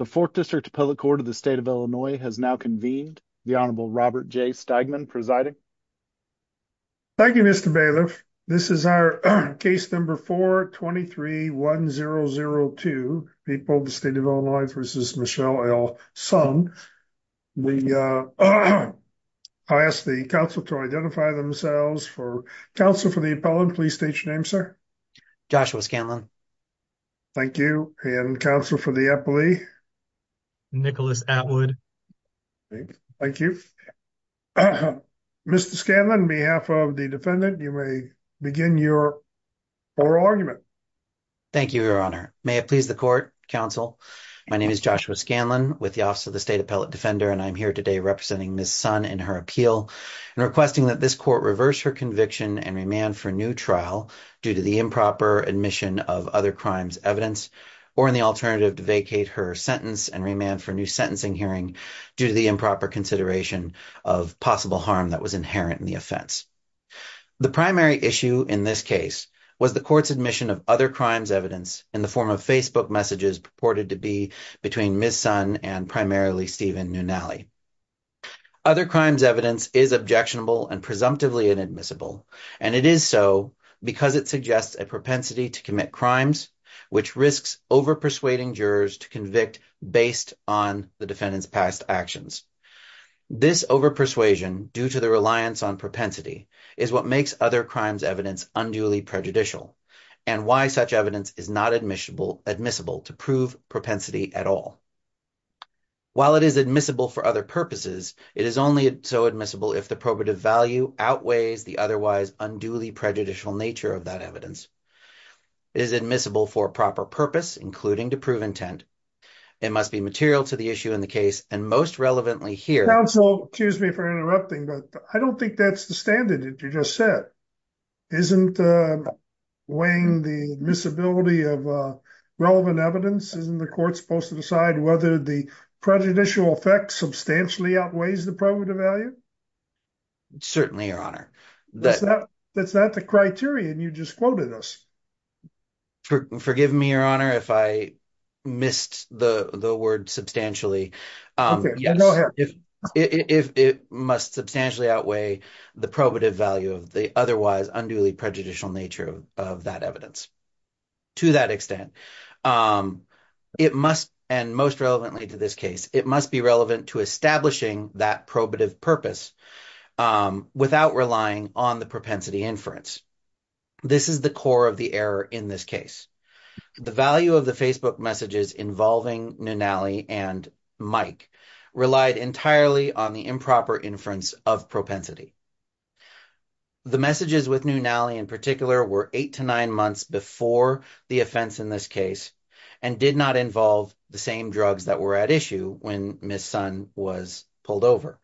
The 4th District Appellate Court of the State of Illinois has now convened. The Honorable Robert J. Stegman presiding. Thank you, Mr. Bailiff. This is our case number 4-23-1002, people of the State of Illinois v. Michelle L. Sung. I ask the counsel to identify themselves. Counsel for the appellant, please state your name, sir. Joshua Scanlon. Thank you. And counsel for the appellee? Nicholas Atwood. Thank you. Mr. Scanlon, on behalf of the defendant, you may begin your oral argument. Thank you, Your Honor. May it please the court, counsel. My name is Joshua Scanlon with the Office of the State Appellate Defender, and I'm here today representing Ms. Sung in her appeal and requesting that this court reverse her conviction and remand for new trial due to the improper admission of other crimes evidence or in the alternative to vacate her sentence and remand for new sentencing hearing due to the improper consideration of possible harm that was inherent in the offense. The primary issue in this case was the court's admission of other crimes evidence in the form of Facebook messages purported to be between Ms. Sung and primarily Stephen Nunali. Other crimes evidence is objectionable and inadmissible, and it is so because it suggests a propensity to commit crimes which risks over-persuading jurors to convict based on the defendant's past actions. This over-persuasion, due to the reliance on propensity, is what makes other crimes evidence unduly prejudicial and why such evidence is not admissible to prove propensity at all. While it is admissible for purposes, it is only so admissible if the probative value outweighs the otherwise unduly prejudicial nature of that evidence. It is admissible for proper purpose, including to prove intent. It must be material to the issue in the case, and most relevantly here... Counsel, excuse me for interrupting, but I don't think that's the standard that you just said. Isn't weighing the admissibility of relevant evidence, isn't the court supposed to decide whether the prejudicial effect substantially outweighs the probative value? Certainly, Your Honor. That's not the criterion you just quoted us. Forgive me, Your Honor, if I missed the word substantially. Okay, go ahead. It must substantially outweigh the probative value of the otherwise unduly prejudicial nature of that evidence. To that extent, it must, and most relevantly to this case, it must be relevant to establishing that probative purpose without relying on the propensity inference. This is the core of the error in this case. The value of the Facebook messages involving Nunnally and Mike relied entirely on the improper inference of propensity. The messages with Nunnally in particular were eight to nine months before the offense in this case and did not involve the same drugs that were at issue when Ms. Son was pulled over.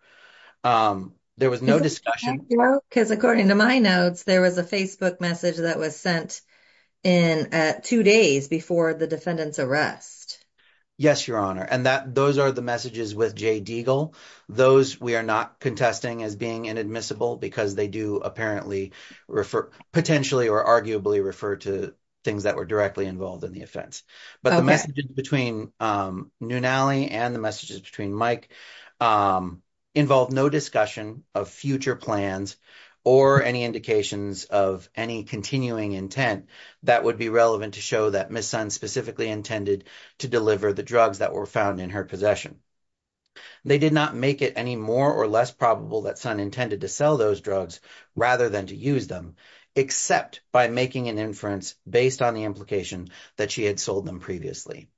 There was no discussion... Thank you, because according to my notes, there was a Facebook message that was sent in at two days before the defendant's arrest. Yes, Your Honor, and those are the messages with Jay Deagle. Those we are not contesting as being inadmissible because they do apparently refer...potentially or arguably refer to things that were directly involved in the offense. But the messages between Nunnally and the messages between Mike involved no discussion of future plans or any indications of any continuing intent that would be relevant to show that Ms. Son specifically intended to deliver the drugs that were found in her possession. They did not make it any more or less probable that Son intended to sell those drugs rather than to use them, except by making an inference based on the implication that she had sold them previously.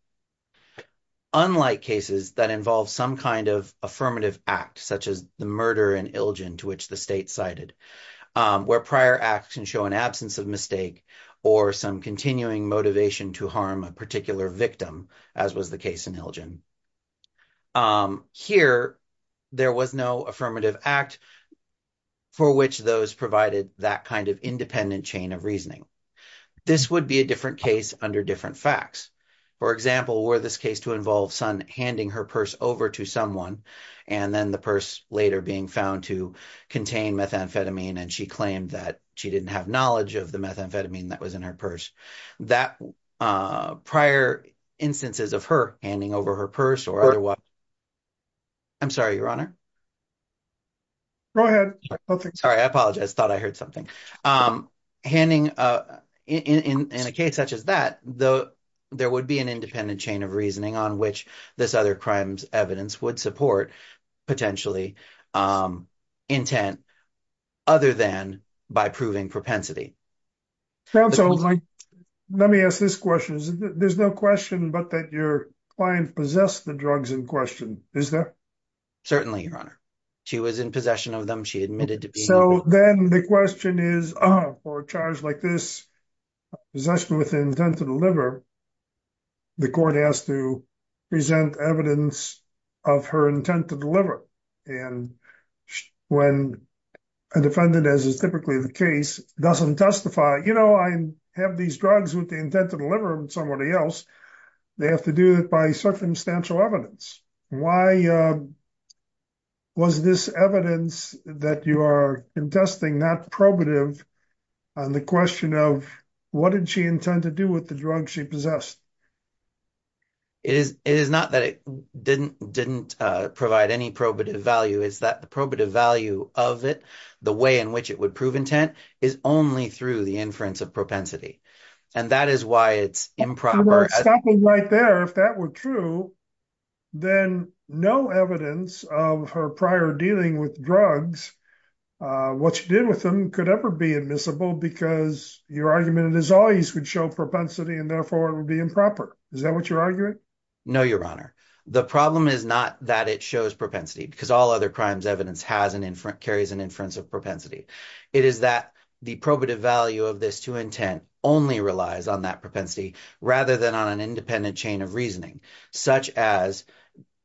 Unlike cases that involve some kind of affirmative act, such as the murder in Ilgin to which the state cited, where prior acts can show an absence of mistake or some continuing motivation to harm a particular victim, as was the case in Ilgin, here there was no affirmative act for which those provided that kind of independent chain of reasoning. This would be a different case under different facts. For example, were this case to involve Son handing her purse over to someone and then the purse later being found to contain methamphetamine and she claimed that she didn't have knowledge of the methamphetamine that was in her purse, that prior instances of her handing over her purse or otherwise... I'm sorry, your honor? Go ahead. Sorry, I apologize. Thought I heard something. Handing in a case such as that, though there would be an independent chain of reasoning on which this other crime's evidence would support potentially intent other than by proving propensity. Let me ask this question. There's no question but that your client possessed the drugs in question, is there? Certainly, your honor. She was in possession of them. She admitted to being... So then the question is, for a charge like this, possession with intent to deliver, the court has to present evidence of her intent to deliver. And when a defendant, as is typically the case, doesn't testify, you know, I have these drugs with the intent to deliver them to somebody else, they have to do it by circumstantial evidence. Why was this evidence that you are contesting not probative on the question of what did she intend to do with the drugs she possessed? It is not that it didn't provide any probative value. It's that the probative value of it, the way in which it would prove intent, is only through the inference of propensity. And that is why it's improper... Stopping right there, if that were true, then no evidence of her prior dealing with drugs, what she did with them could ever be admissible because your argument is always would show propensity and therefore it would be improper. Is that what you're arguing? No, your honor. The problem is not that it shows propensity because all other crimes evidence carries an inference of propensity. It is that the probative value of this to intent only relies on that propensity rather than on an independent chain of reasoning, such as,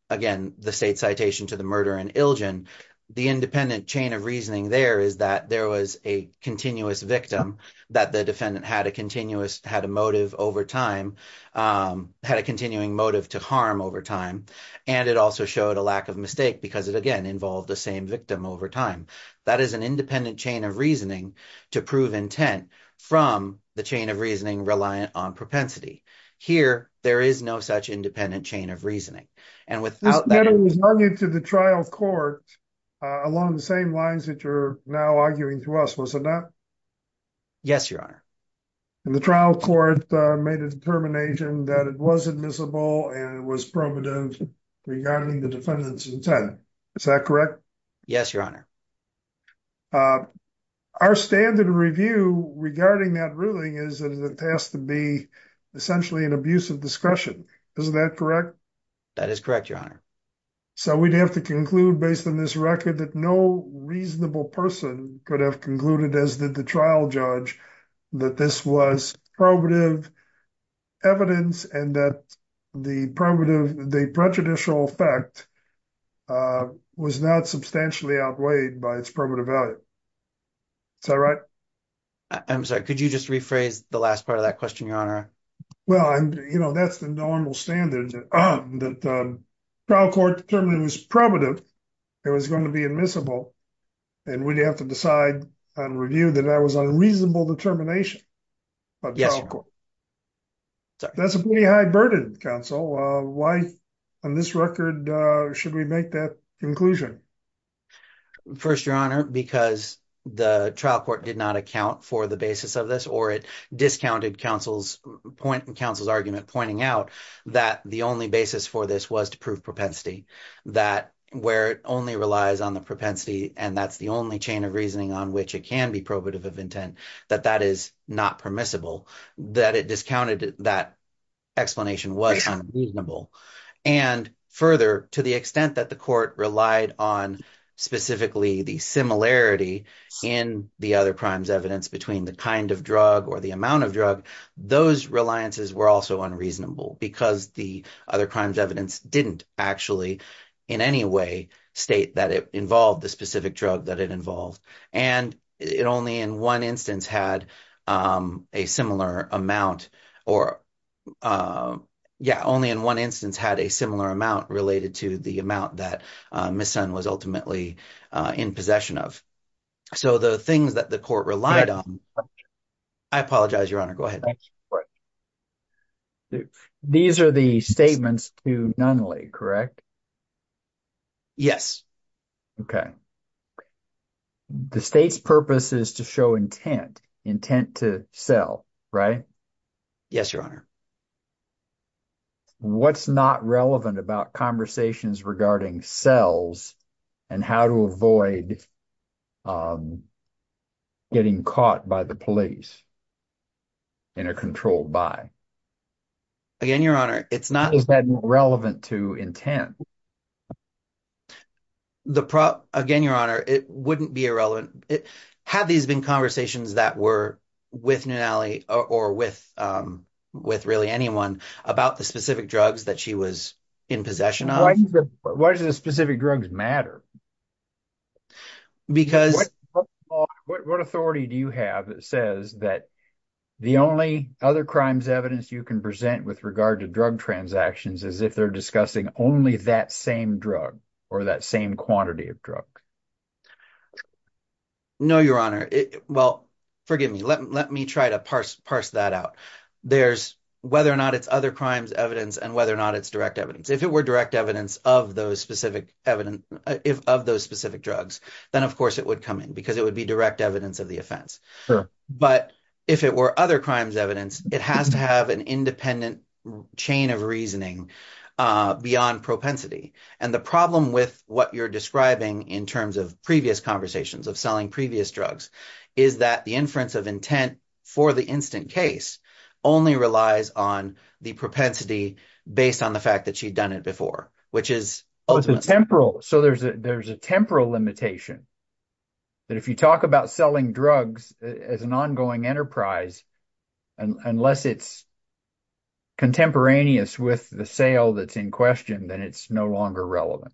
again, the state citation to the murder and ilgin. The independent chain of reasoning there is that there was a continuous victim that the defendant had a motive over time, had a continuing motive to harm over time. And it also showed a lack of mistake because it, again, involved the same victim over time. That is an independent chain of reasoning to prove intent from the chain of reasoning reliant on propensity. Here, there is no such independent chain of reasoning. And without that- This matter was argued to the trial court along the same lines that you're now arguing to us, was it not? Yes, your honor. And the trial court made a determination that it was admissible and it was primitive regarding the defendant's intent. Is that correct? Yes, your honor. Uh, our standard review regarding that ruling is that it has to be essentially an abuse of discretion. Is that correct? That is correct, your honor. So we'd have to conclude based on this record that no reasonable person could have concluded, as did the trial judge, that this was probative evidence and that the probative, the prejudicial effect uh, was not substantially outweighed by its probative value. Is that right? I'm sorry, could you just rephrase the last part of that question, your honor? Well, I'm, you know, that's the normal standard that the trial court determined it was probative, it was going to be admissible, and we'd have to decide on review that that was unreasonable determination by the trial court. Yes, your honor. Sorry. That's a pretty high burden, counsel. Why, on this record, should we make that conclusion? First, your honor, because the trial court did not account for the basis of this or it discounted counsel's point, counsel's argument pointing out that the only basis for this was to prove propensity, that where it only relies on the propensity and that's the only chain of reasoning on which it can be probative of intent, that that is not permissible, that it discounted that explanation was unreasonable, and further, to the extent that the court relied on specifically the similarity in the other crimes evidence between the kind of drug or the amount of drug, those reliances were also unreasonable because the other crimes evidence didn't actually in any way state that it involved the specific drug that it involved, and it only in one instance had a similar amount or, yeah, only in one instance had a similar amount related to the amount that Ms. Sun was ultimately in possession of. So the things that the court relied on... I apologize, your honor. Go ahead. These are the statements to Nunley, correct? Yes. Okay. The state's purpose is to show intent, intent to sell, right? Yes, your honor. What's not relevant about conversations regarding sells and how to avoid getting caught by the police and are controlled by? Again, your honor, it's not... relevant to intent. Again, your honor, it wouldn't be irrelevant. Had these been conversations that were with Nunley or with really anyone about the specific drugs that she was in possession of? Why does the specific drugs matter? Because... What authority do you have that says that the only other crimes evidence you can with regard to drug transactions is if they're discussing only that same drug or that same quantity of drug? No, your honor. Well, forgive me. Let me try to parse that out. There's whether or not it's other crimes evidence and whether or not it's direct evidence. If it were direct evidence of those specific drugs, then of course it would come in because it would be chain of reasoning beyond propensity. And the problem with what you're describing in terms of previous conversations of selling previous drugs is that the inference of intent for the instant case only relies on the propensity based on the fact that she'd done it before, which is... So there's a temporal limitation that if you talk about selling drugs as an ongoing enterprise, unless it's contemporaneous with the sale that's in question, then it's no longer relevant.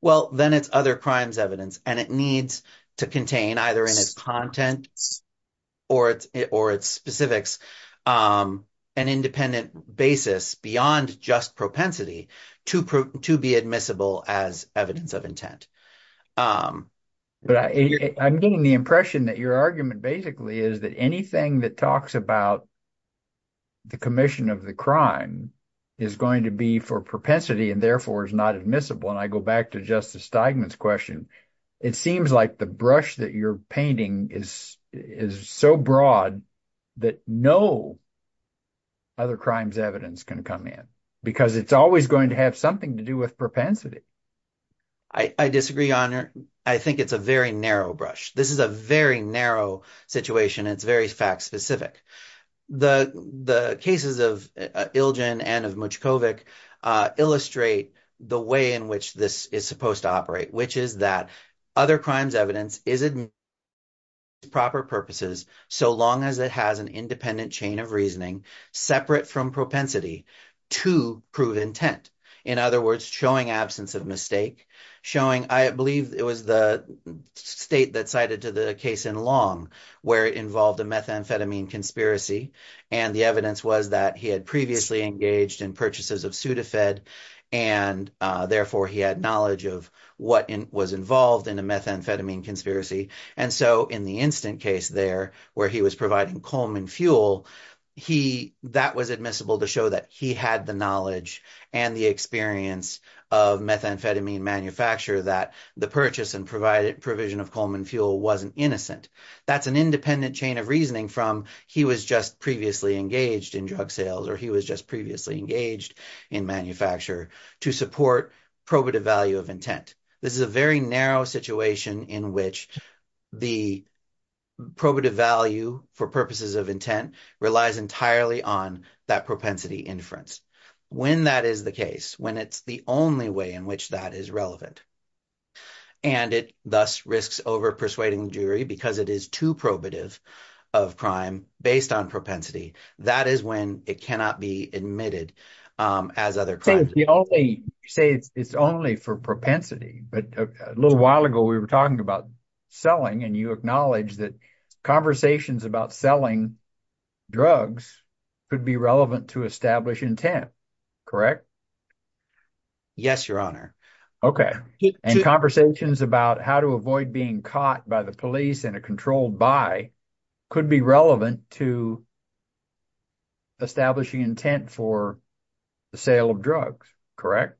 Well, then it's other crimes evidence and it needs to contain either in its content or its specifics an independent basis beyond just propensity to be admissible as evidence of intent. But I'm getting the impression that your argument basically is that anything that talks about the commission of the crime is going to be for propensity and therefore is not admissible. And I go back to Justice Steigman's question. It seems like the brush that you're painting is so broad that no other crimes evidence can come in because it's always going to have something to do with propensity. I disagree, Your Honor. I think it's a very narrow brush. This is a very narrow situation and it's very fact specific. The cases of Ilgen and of Muchkovic illustrate the way in which this is supposed to operate, which is that other crimes evidence is proper purposes so long as it has an independent chain of reasoning separate from propensity to prove intent. In other words, showing absence of mistake, showing, I believe it was the state that cited to the case in Long where it involved a methamphetamine conspiracy and the evidence was that he had previously engaged in purchases of Sudafed and therefore he had knowledge of what was involved in a methamphetamine conspiracy. And so in the instant case there where he was and the experience of methamphetamine manufacture that the purchase and provided provision of Coleman fuel wasn't innocent. That's an independent chain of reasoning from he was just previously engaged in drug sales or he was just previously engaged in manufacture to support probative value of intent. This is a very narrow situation in which the probative value for purposes of intent relies entirely on that propensity inference. When that is the case, when it's the only way in which that is relevant and it thus risks over persuading the jury because it is too probative of crime based on propensity, that is when it cannot be admitted as other. So you say it's only for propensity but a little while ago we were talking about selling and you acknowledge that conversations about selling drugs could be relevant to establish intent, correct? Yes, your honor. Okay, and conversations about how to avoid being caught by the police in a controlled buy could be relevant to establishing intent for the sale of drugs, correct?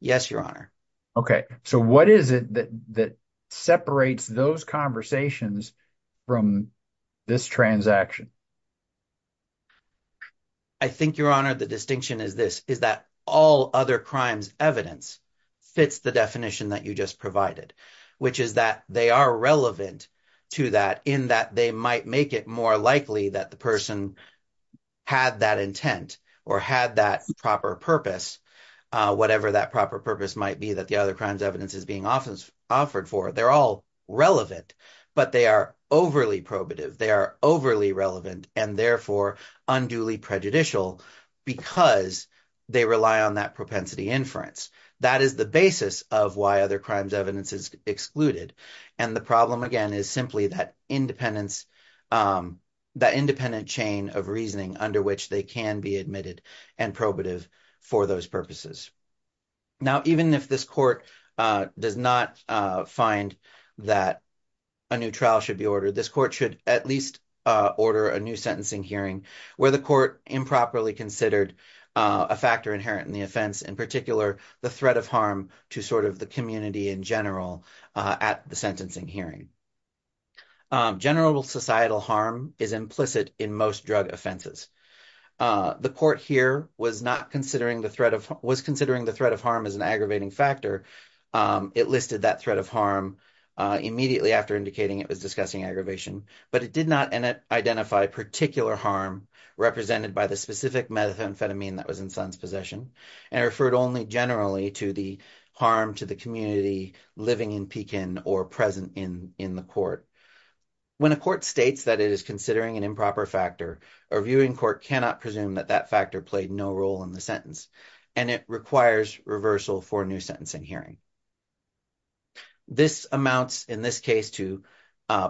Yes, your honor. Okay, so what is it that that separates those conversations from this transaction? I think, your honor, the distinction is this is that all other crimes evidence fits the definition that you just provided, which is that they are relevant to that in that they might make it more likely that the person had that intent or had that proper purpose, whatever that proper purpose might be that the other crimes evidence is being often offered for. They're all relevant but they are overly probative, they are overly relevant and therefore unduly prejudicial because they rely on that propensity inference. That is the basis of why other crimes evidence is excluded and the problem again is simply that independence, that independent chain of reasoning under which they can be admitted and probative for those purposes. Now even if this court does not find that a new trial should be ordered, this court should at least order a new sentencing hearing where the court improperly considered a factor inherent in the offense, in particular the threat of harm to the community in general at the sentencing hearing. General societal harm is implicit in most drug offenses. The court here was considering the threat of harm as an aggravating factor. It listed that threat of harm immediately after indicating it was discussing aggravation but it did not identify particular harm represented by the specific methamphetamine that was in son's possession and referred only generally to the harm to the community living in Pekin or present in in the court. When a court states that it is considering an improper factor, a viewing court cannot presume that that factor played no role in the sentence and it requires reversal for new sentencing hearing. This amounts in this case to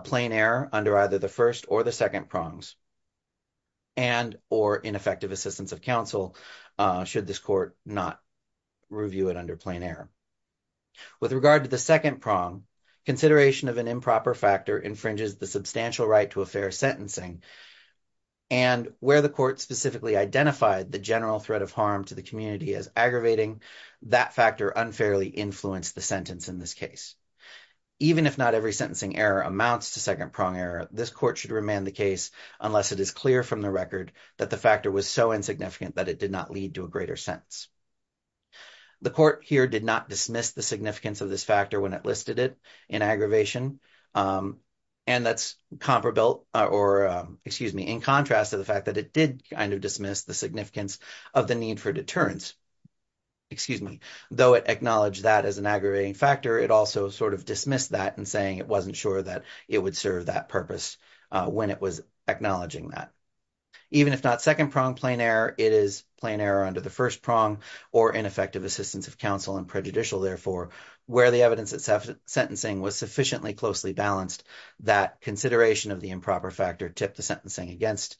plain error under either the first or the second prongs and or ineffective assistance of counsel should this court not review it under plain error. With regard to the second prong, consideration of an improper factor infringes the substantial right to a fair sentencing and where the court specifically identified the general threat of harm to the community as aggravating, that factor unfairly influenced the sentence in this case. Even if not every sentencing error amounts to second prong error, this court should remain the case unless it is clear from the record that the factor was so insignificant that it did not lead to a greater sentence. The court here did not dismiss the significance of this factor when it listed it in aggravation and that's comparable or excuse me in contrast to the fact that it did kind of dismiss the significance of the need for deterrence, excuse me, though it acknowledged that as an aggravating factor, it also sort of dismissed that and saying it wasn't sure that it would serve that purpose when it was acknowledging that. Even if not second prong plain error, it is plain error under the first prong or ineffective assistance of counsel and prejudicial therefore where the evidence itself sentencing was sufficiently closely balanced that consideration of the improper factor tipped the sentencing against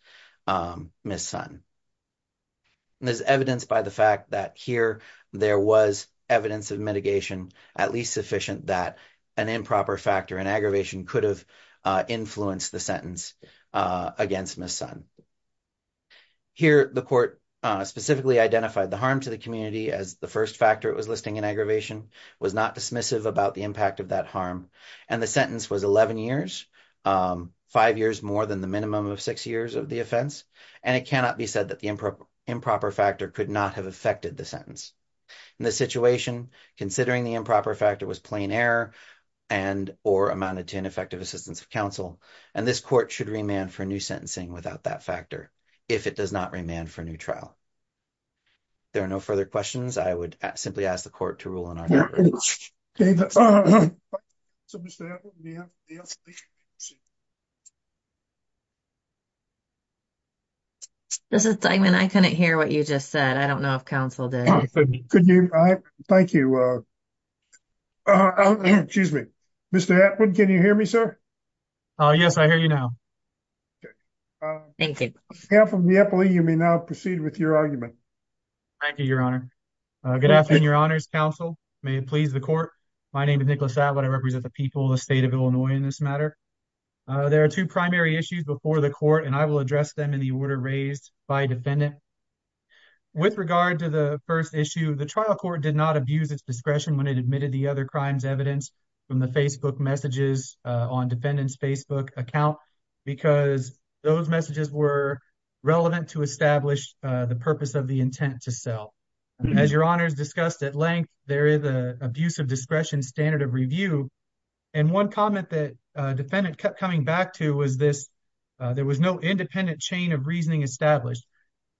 Ms. Sun. There's evidence by the fact that here there was evidence of at least sufficient that an improper factor in aggravation could have influenced the sentence against Ms. Sun. Here the court specifically identified the harm to the community as the first factor it was listing in aggravation was not dismissive about the impact of that harm and the sentence was 11 years, five years more than the minimum of six years of the offense and it cannot be said that the improper factor could not have affected the sentence. In this situation, considering the improper factor was plain error and or amounted to ineffective assistance of counsel and this court should remand for new sentencing without that factor if it does not remand for a new trial. There are no further questions. I would simply ask the court to rule in our favor. Okay. This is Diamond. I couldn't hear what you just said. I don't know if counsel did. Thank you. Excuse me. Mr. Atwood, can you hear me, sir? Oh, yes. I hear you now. Thank you. You may now proceed with your argument. Thank you, Your Honor. Good afternoon, Your Honor's counsel. May it please the court. My name is Nicholas Atwood. I represent the people of the state of Illinois in this matter. There are two primary issues before the court and I will address them in the order raised by defendant. With regard to the first issue, the trial court did not abuse its discretion when it admitted the other crimes evidence from the Facebook messages on defendant's Facebook account because those messages were relevant to establish the purpose of the intent to sell. As Your Honor's discussed at length, there is an abuse of discretion standard of review and one comment that defendant kept coming back to was this. There was no independent chain of reasoning established.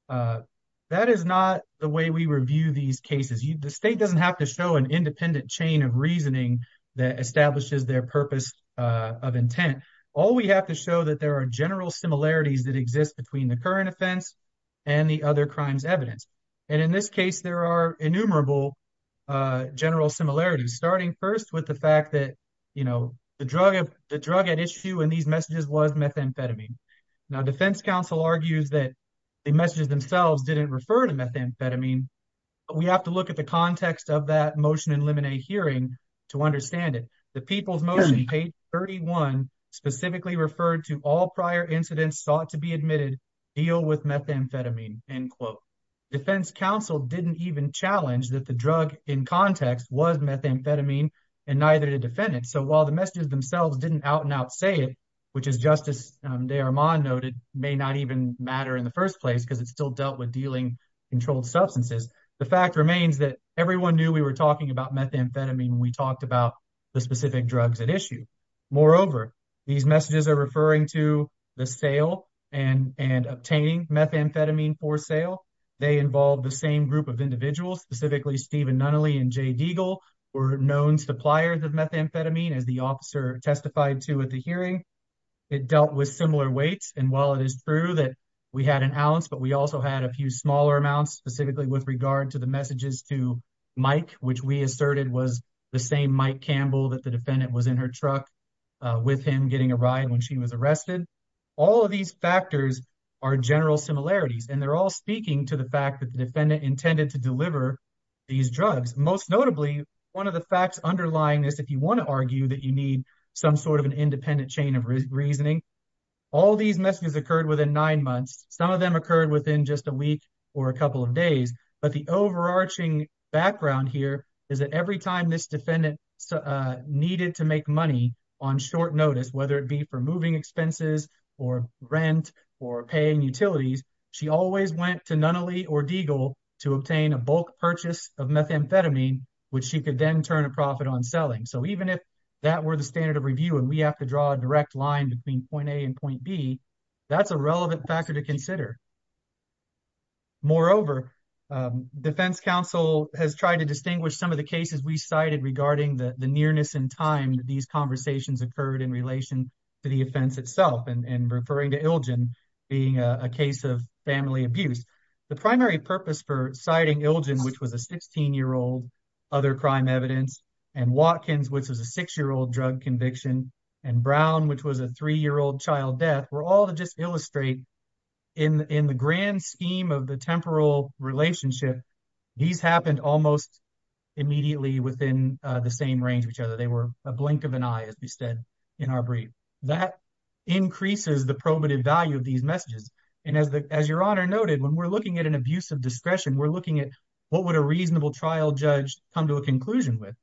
That is not the way we review these cases. The state doesn't have to show an independent chain of reasoning that establishes their purpose of intent. All we have to show that there are general similarities that exist between the current offense and the other crimes evidence. And in this case there are innumerable general similarities starting first with the fact that, you know, the drug at issue in these messages was methamphetamine. Now defense counsel argues that the messages themselves didn't refer to methamphetamine. We have to look at the context of that motion in limine hearing to understand it. The people's page 31 specifically referred to all prior incidents sought to be admitted deal with methamphetamine. End quote. Defense counsel didn't even challenge that the drug in context was methamphetamine and neither did a defendant. So while the messages themselves didn't out and out say it, which is just as De Armand noted may not even matter in the first place because it's still dealt with dealing controlled substances. The fact remains that everyone knew we were talking about methamphetamine when we talked about the specific drugs at issue. Moreover, these messages are referring to the sale and obtaining methamphetamine for sale. They involved the same group of individuals, specifically Steven Nunnally and Jay Deagle were known suppliers of methamphetamine as the officer testified to at the hearing. It dealt with similar weights and while it is true that we had an ounce but we also had a few smaller amounts specifically with regard to messages to Mike, which we asserted was the same Mike Campbell that the defendant was in her truck with him getting a ride when she was arrested. All of these factors are general similarities and they're all speaking to the fact that the defendant intended to deliver these drugs. Most notably, one of the facts underlying this if you want to argue that you need some sort of an independent chain of reasoning, all these messages occurred within nine months. Some of them occurred within just a week or a couple of days but the overarching background here is that every time this defendant needed to make money on short notice, whether it be for moving expenses or rent or paying utilities, she always went to Nunnally or Deagle to obtain a bulk purchase of methamphetamine which she could then turn a profit on selling. So even if that were the standard of review and we have to draw a factor to consider. Moreover, defense counsel has tried to distinguish some of the cases we cited regarding the nearness in time that these conversations occurred in relation to the offense itself and referring to Ilgen being a case of family abuse. The primary purpose for citing Ilgen which was a 16-year-old other crime evidence and Watkins which was a six-year-old drug conviction and Brown which was a three-year-old child death were all to just illustrate in the grand scheme of the temporal relationship, these happened almost immediately within the same range of each other. They were a blink of an eye as we said in our brief. That increases the probative value of these messages and as your honor noted, when we're looking at an abuse of discretion, we're looking at what would a reasonable trial judge come to a conclusion with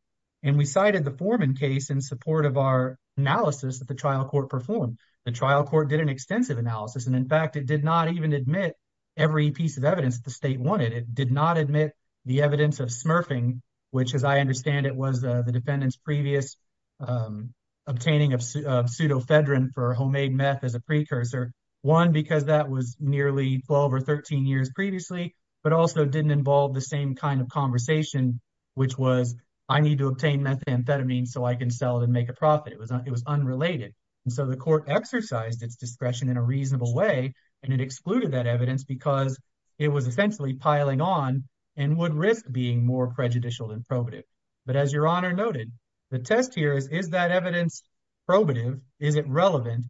and we cited the Foreman case in support of our analysis that the trial court performed. The trial court did an extensive analysis and in fact it did not even admit every piece of evidence the state wanted. It did not admit the evidence of smurfing which as I understand it was the defendant's previous obtaining of pseudofedrin for homemade meth as a precursor. One because that was nearly 12 or 13 years previously but also didn't involve the same kind of conversation which was I need to obtain methamphetamine so I can sell it and make a profit. It was unrelated and so the court exercised its discretion in a reasonable way and it excluded that evidence because it was essentially piling on and would risk being more prejudicial than probative but as your honor noted, the test here is is that evidence probative? Is it relevant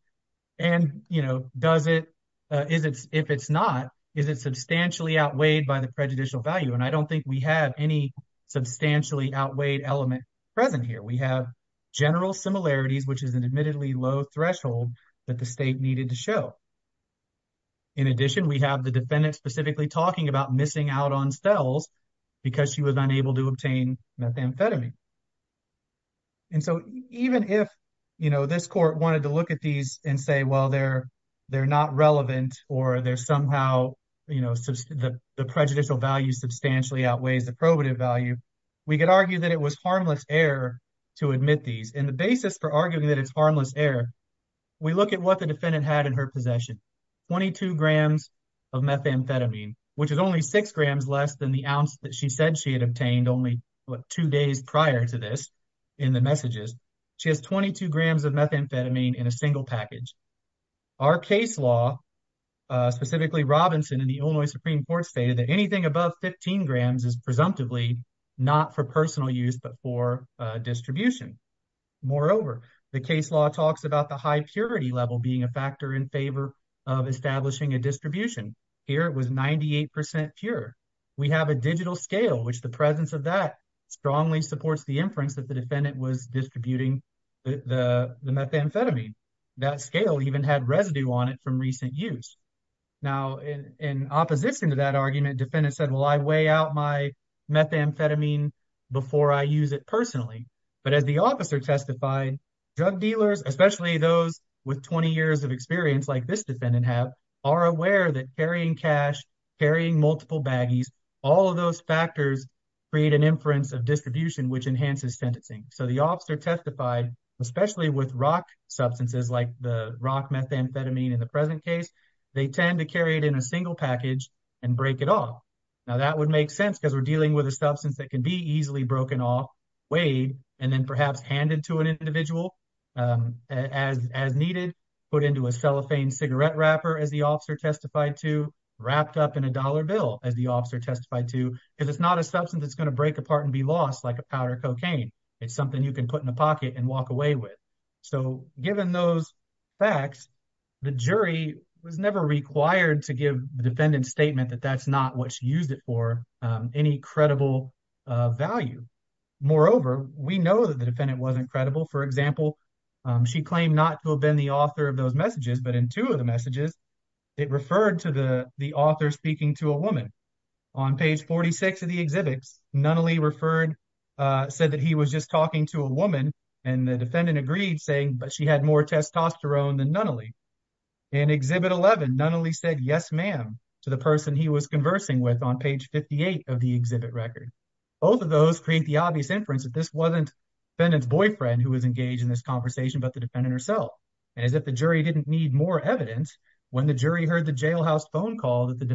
and you know does it, if it's not, is it substantially outweighed by the prejudicial value and I don't think we have any substantially outweighed element present here. We have general similarities which is an admittedly low threshold that the state needed to show. In addition, we have the defendant specifically talking about missing out on steles because she was unable to obtain methamphetamine and so even if you know this court wanted to look at these and say well they're they're not relevant or they're somehow you know the prejudicial value substantially outweighs the probative value, we could argue that it was harmless error to admit these and the basis for arguing that it's harmless error, we look at what the defendant had in her possession. 22 grams of methamphetamine which is only six grams less than the ounce that she said she had obtained only what two days prior to this in the messages. She has 22 grams of methamphetamine in a single package. Our case law specifically Robinson in the Illinois Supreme Court stated that anything above 15 grams is presumptively not for personal use but for distribution. Moreover, the case law talks about the high purity level being a factor in favor of establishing a distribution. Here it was 98 percent pure. We have a digital scale which the presence of that strongly supports the inference that the defendant was distributing the methamphetamine. That scale even had residue on it from recent use. Now in opposition to that argument defendant said well I weigh out my methamphetamine before I use it personally but as the officer testified drug dealers especially those with 20 years of experience like this defendant have are aware that carrying cash, carrying multiple baggies, all of those factors create an inference of distribution which enhances sentencing. So the officer testified especially with rock substances like the rock methamphetamine in the present case they tend to carry it in a single package and break it off. Now that would make sense because we're dealing with a substance that can be easily broken off weighed and then perhaps handed to an individual as as needed put into a cellophane cigarette wrapper as the officer testified to wrapped up in a dollar bill as the officer testified to if it's not a substance it's break apart and be lost like a powder cocaine it's something you can put in a pocket and walk away with. So given those facts the jury was never required to give the defendant's statement that that's not what she used it for any credible value. Moreover we know that the defendant wasn't credible for example she claimed not to have been the author of those messages but in two of the referred said that he was just talking to a woman and the defendant agreed saying but she had more testosterone than Nunnally. In exhibit 11 Nunnally said yes ma'am to the person he was conversing with on page 58 of the exhibit record. Both of those create the obvious inference that this wasn't defendant's boyfriend who was engaged in this conversation but the defendant herself and as if the jury didn't need more evidence when the jury heard the jailhouse phone call that the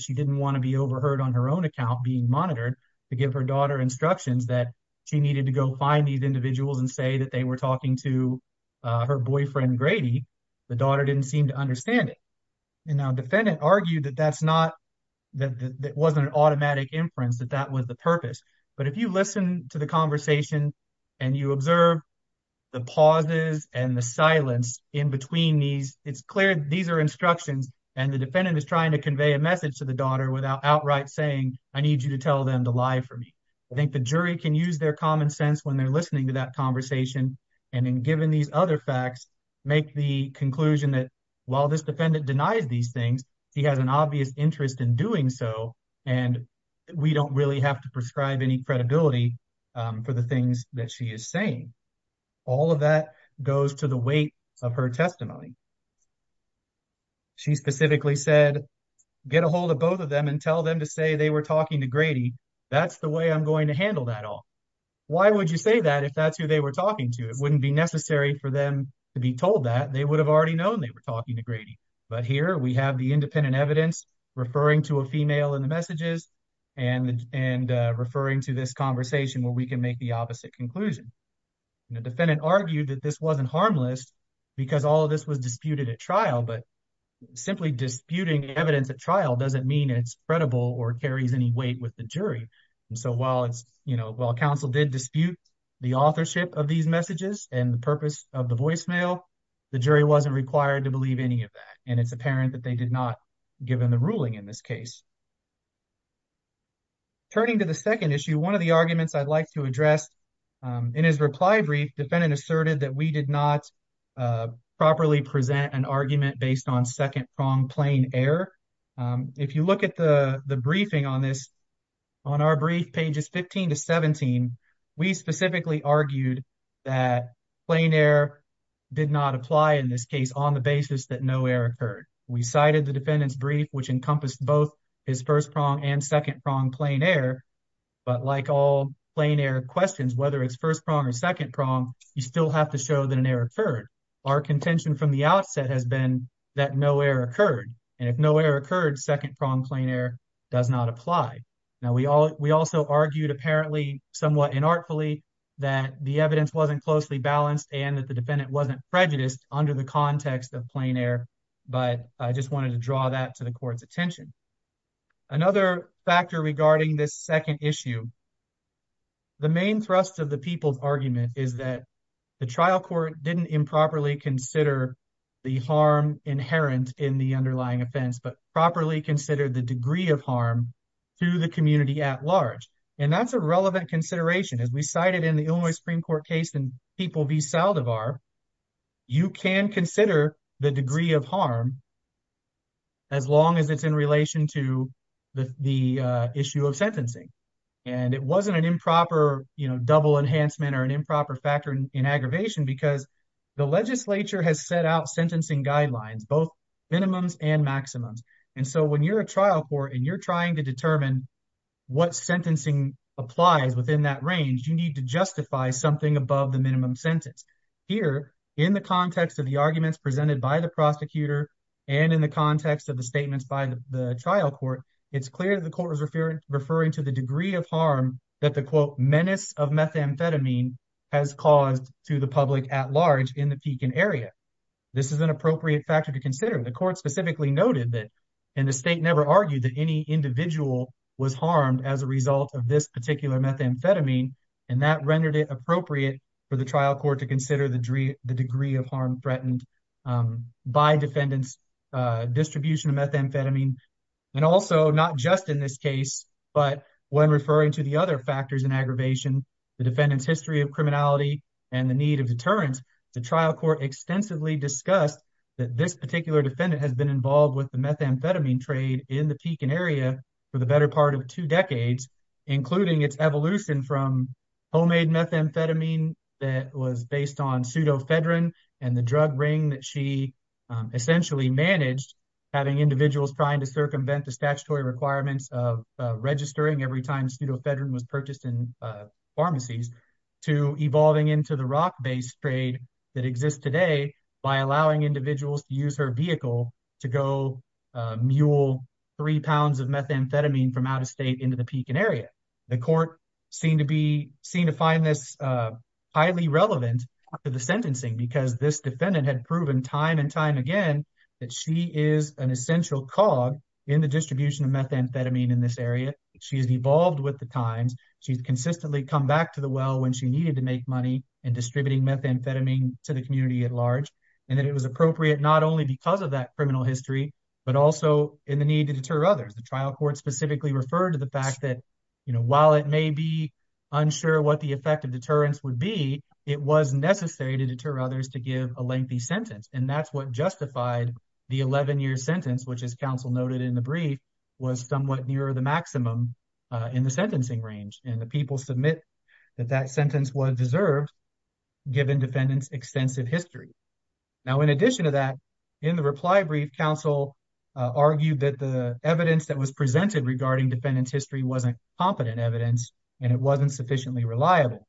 she didn't want to be overheard on her own account being monitored to give her daughter instructions that she needed to go find these individuals and say that they were talking to her boyfriend Grady the daughter didn't seem to understand it and now defendant argued that that's not that that wasn't an automatic inference that that was the purpose but if you listen to the conversation and you observe the pauses and the silence in between these it's clear these are and the defendant is trying to convey a message to the daughter without outright saying I need you to tell them to lie for me. I think the jury can use their common sense when they're listening to that conversation and in giving these other facts make the conclusion that while this defendant denies these things she has an obvious interest in doing so and we don't really have to prescribe any credibility for the things that she is saying. All of that goes to the weight of her testimony. She specifically said get a hold of both of them and tell them to say they were talking to Grady that's the way I'm going to handle that all. Why would you say that if that's who they were talking to it wouldn't be necessary for them to be told that they would have already known they were talking to Grady but here we have the independent evidence referring to a female in the messages and and referring to this conversation where we can make the opposite conclusion. The defendant argued that this wasn't harmless because all of this was disputed at trial but simply disputing evidence at trial doesn't mean it's credible or carries any weight with the jury and so while it's you know while counsel did dispute the authorship of these messages and the purpose of the voicemail the jury wasn't required to believe any of that and it's apparent that they did not given the ruling in this case. Turning to the second issue one of the arguments I'd like to address in his reply brief defendant asserted that we did not properly present an argument based on second prong plain error. If you look at the the briefing on this on our brief pages 15 to 17 we specifically argued that plain error did not apply in this case on the basis that no error occurred. We cited the defendant's brief which encompassed both his first prong and second prong plain error but like all plain error questions whether it's first prong or second prong you still have to show that an error occurred. Our contention from the outset has been that no error occurred and if no error occurred second prong plain error does not apply. Now we all we also argued apparently somewhat inartfully that the evidence wasn't closely balanced and that the defendant wasn't prejudiced under the context of plain error but I just wanted to draw that to the court's attention. Another factor regarding this second issue the main thrust of the people's argument is that the trial court didn't improperly consider the harm inherent in the underlying offense but properly considered the degree of harm to the community at large and that's a relevant consideration as we cited in the Illinois Supreme Court case and people v Saldivar you can consider the degree of harm as long as it's in relation to the the issue of sentencing and it wasn't an proper you know double enhancement or an improper factor in aggravation because the legislature has set out sentencing guidelines both minimums and maximums and so when you're a trial court and you're trying to determine what sentencing applies within that range you need to justify something above the minimum sentence. Here in the context of the arguments presented by the prosecutor and in the context of the statements by the trial court it's clear that the court is referring to the degree of harm that the quote menace of methamphetamine has caused to the public at large in the Pekin area. This is an appropriate factor to consider the court specifically noted that and the state never argued that any individual was harmed as a result of this particular methamphetamine and that rendered it appropriate for the trial court to consider the degree of harm threatened by defendants distribution of methamphetamine and also not just in this case but when referring to the other factors in aggravation the defendant's history of criminality and the need of deterrence the trial court extensively discussed that this particular defendant has been involved with the methamphetamine trade in the Pekin area for the better part of two decades including its evolution from homemade methamphetamine that was based on pseudofedrin and the drug ring that she essentially managed having individuals trying to circumvent the statutory requirements of registering every time pseudofedrin was purchased in pharmacies to evolving into the rock-based trade that exists today by allowing individuals to use her vehicle to go mule three pounds of methamphetamine from out of state into the Pekin area. The court seemed to be seen to find this highly relevant to the sentencing because this defendant had proven time and time again that she is an essential cog in the distribution of methamphetamine in this area she has evolved with the times she's consistently come back to the well when she needed to make money in distributing methamphetamine to the community at large and that it was appropriate not only because of that criminal history but also in the need to deter others the trial court specifically referred to the fact that you know while it may be unsure what the effect of deterrence would be it was necessary to deter others to give a lengthy sentence and that's what justified the 11-year sentence which is counsel noted in the brief was somewhat nearer the maximum in the sentencing range and the people submit that that sentence was deserved given defendants extensive history. Now in addition to that in the reply brief counsel argued that the evidence that was presented regarding defendant's history wasn't competent evidence and it wasn't sufficiently reliable.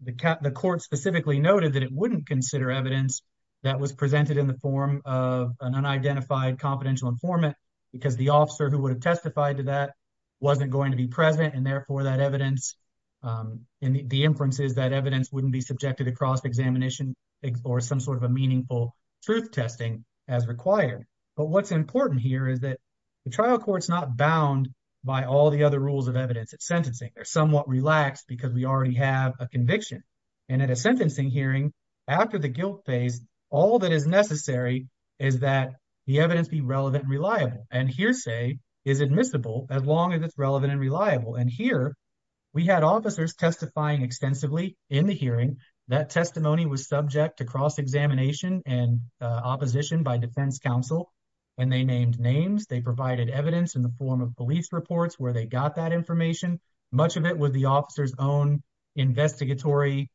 The court specifically noted that it wouldn't consider evidence that was presented in the form of an unidentified confidential informant because the officer who would have testified to that wasn't going to be present and therefore that evidence and the inference is that evidence wouldn't be subjected across examination or some sort of a meaningful truth testing as required but what's important here is that the trial court's not bound by all the other rules of evidence at sentencing they're somewhat relaxed because we already have a conviction and at a sentencing hearing after the guilt phase all that is necessary is that the evidence be relevant and reliable and hearsay is admissible as long as it's relevant and reliable and here we had officers testifying extensively in the hearing that testimony was subject to cross-examination and opposition by defense counsel and they named names they provided evidence in the form of police reports where they got that information much of it was the officer's own investigatory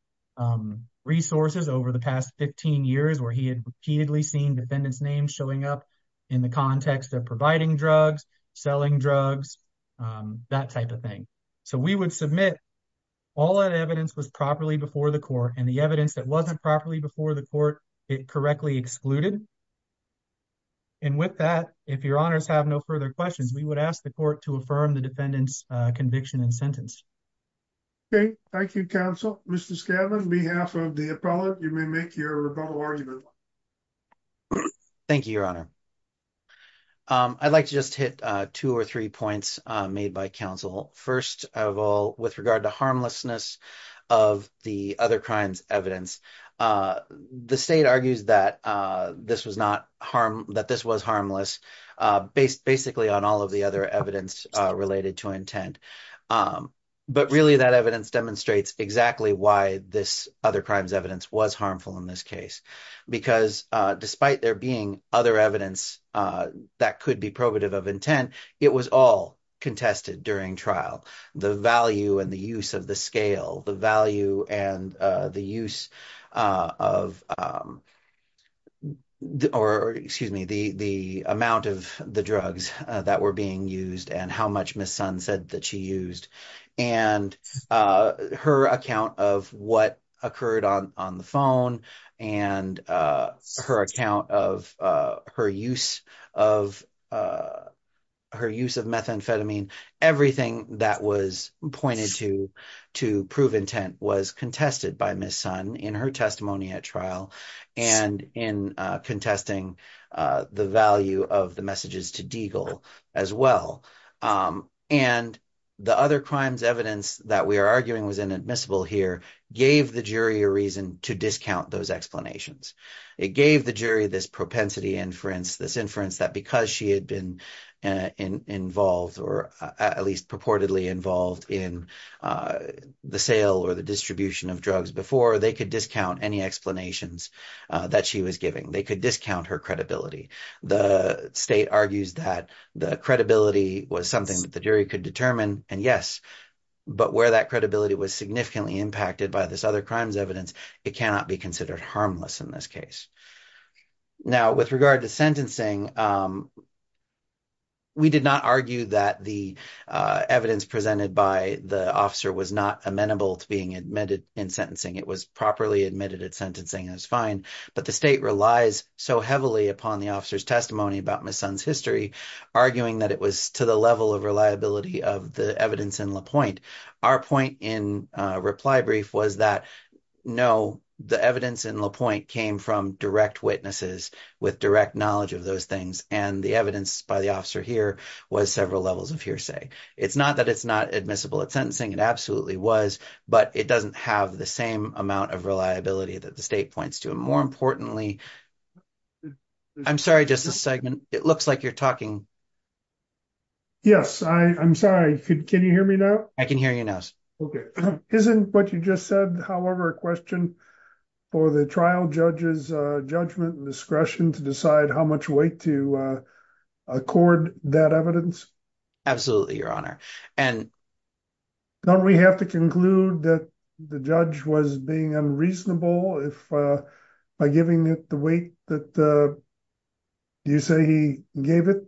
resources over the past 15 years where he had repeatedly seen defendants names showing up in the context of providing drugs selling drugs that type of thing so we would submit all that evidence was properly before the court and the evidence that wasn't properly before the court it correctly excluded and with that if your honors have no further questions we would ask the court to affirm the defendant's conviction and sentence okay thank you counsel mr scaven on behalf of the appellate you may make your rebuttal argument thank you your honor i'd like to just hit uh two or three points made by counsel first of all with regard to harmlessness of the other crimes evidence uh the state argues that uh this was not harm that this was harmless uh based basically on all of the other evidence uh related to intent um but really that evidence demonstrates exactly why this other crimes evidence was harmful in this case because uh despite there being other evidence uh that could be probative of intent it was all contested during trial the value and the use of the scale the value and uh the use of um or excuse me the the amount of the drugs that were being used and how much miss sun said that she used and uh her account of what occurred on on the phone and uh her account of uh her use of uh her use of methamphetamine everything that was pointed to to prove intent was contested by miss sun in her testimony at trial and in uh contesting uh the value of the messages to deagle as well um and the other crimes evidence that we are arguing was inadmissible here gave the jury a reason to discount those explanations it gave the jury this propensity inference this inference that because she had been involved or at least purportedly involved in the sale or the distribution of drugs before they could discount any explanations that she was giving they could discount her credibility the state argues that the credibility was something that the jury could determine and yes but where that credibility was significantly impacted by this other crimes evidence it cannot be considered harmless in this case now with regard to sentencing um we did not argue that the uh evidence presented by the officer was amenable to being admitted in sentencing it was properly admitted at sentencing it was fine but the state relies so heavily upon the officer's testimony about my son's history arguing that it was to the level of reliability of the evidence in la pointe our point in uh reply brief was that no the evidence in la pointe came from direct witnesses with direct knowledge of those things and the evidence by the officer here was several levels of hearsay it's not that it's not admissible at sentencing it absolutely was but it doesn't have the same amount of reliability that the state points to and more importantly i'm sorry just a second it looks like you're talking yes i i'm sorry can you hear me now i can hear your nose okay isn't what you just said however a question for the trial judge's uh judgment and discretion to decide how much weight to accord that evidence absolutely your honor and don't we have to conclude that the judge was being unreasonable if uh by giving it the weight that uh you say he gave it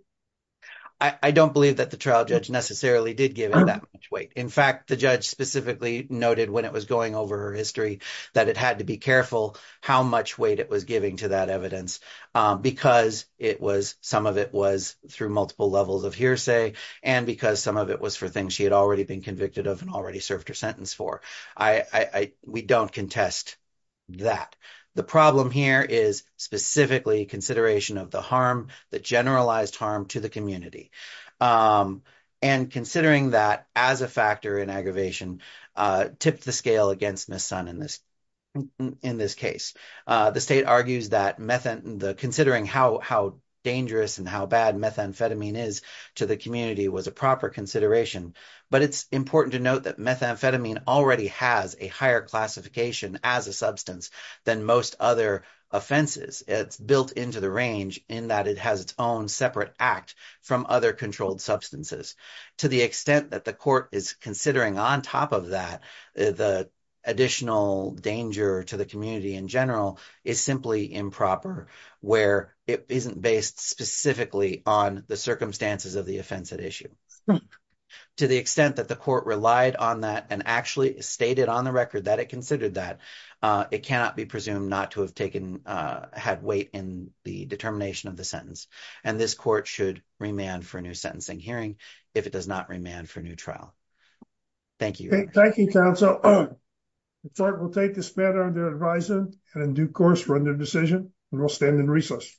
i i don't believe that the trial judge necessarily did give him that much weight in fact the judge specifically noted when it was going over her history that it had to be careful how much weight it was giving to that evidence because it was some of it was through multiple levels of hearsay and because some of it was for things she had already been convicted of and already served her sentence for i i we don't contest that the problem here is specifically consideration of the harm the generalized harm to the community um and considering that as a factor in aggravation uh tipped the scale against miss in this in this case uh the state argues that methane the considering how how dangerous and how bad methamphetamine is to the community was a proper consideration but it's important to note that methamphetamine already has a higher classification as a substance than most other offenses it's built into the range in that it has its own separate act from other controlled substances to the extent that the court is considering on top of that the additional danger to the community in general is simply improper where it isn't based specifically on the circumstances of the offensive issue to the extent that the court relied on that and actually stated on the record that it considered that uh it cannot be presumed not to have taken uh had weight in the determination of the sentence and this court should remand for a new sentencing hearing if it does not remand for a new trial thank you thank you counsel the court will take this matter under advisement and in due course run their decision and we'll stand in recess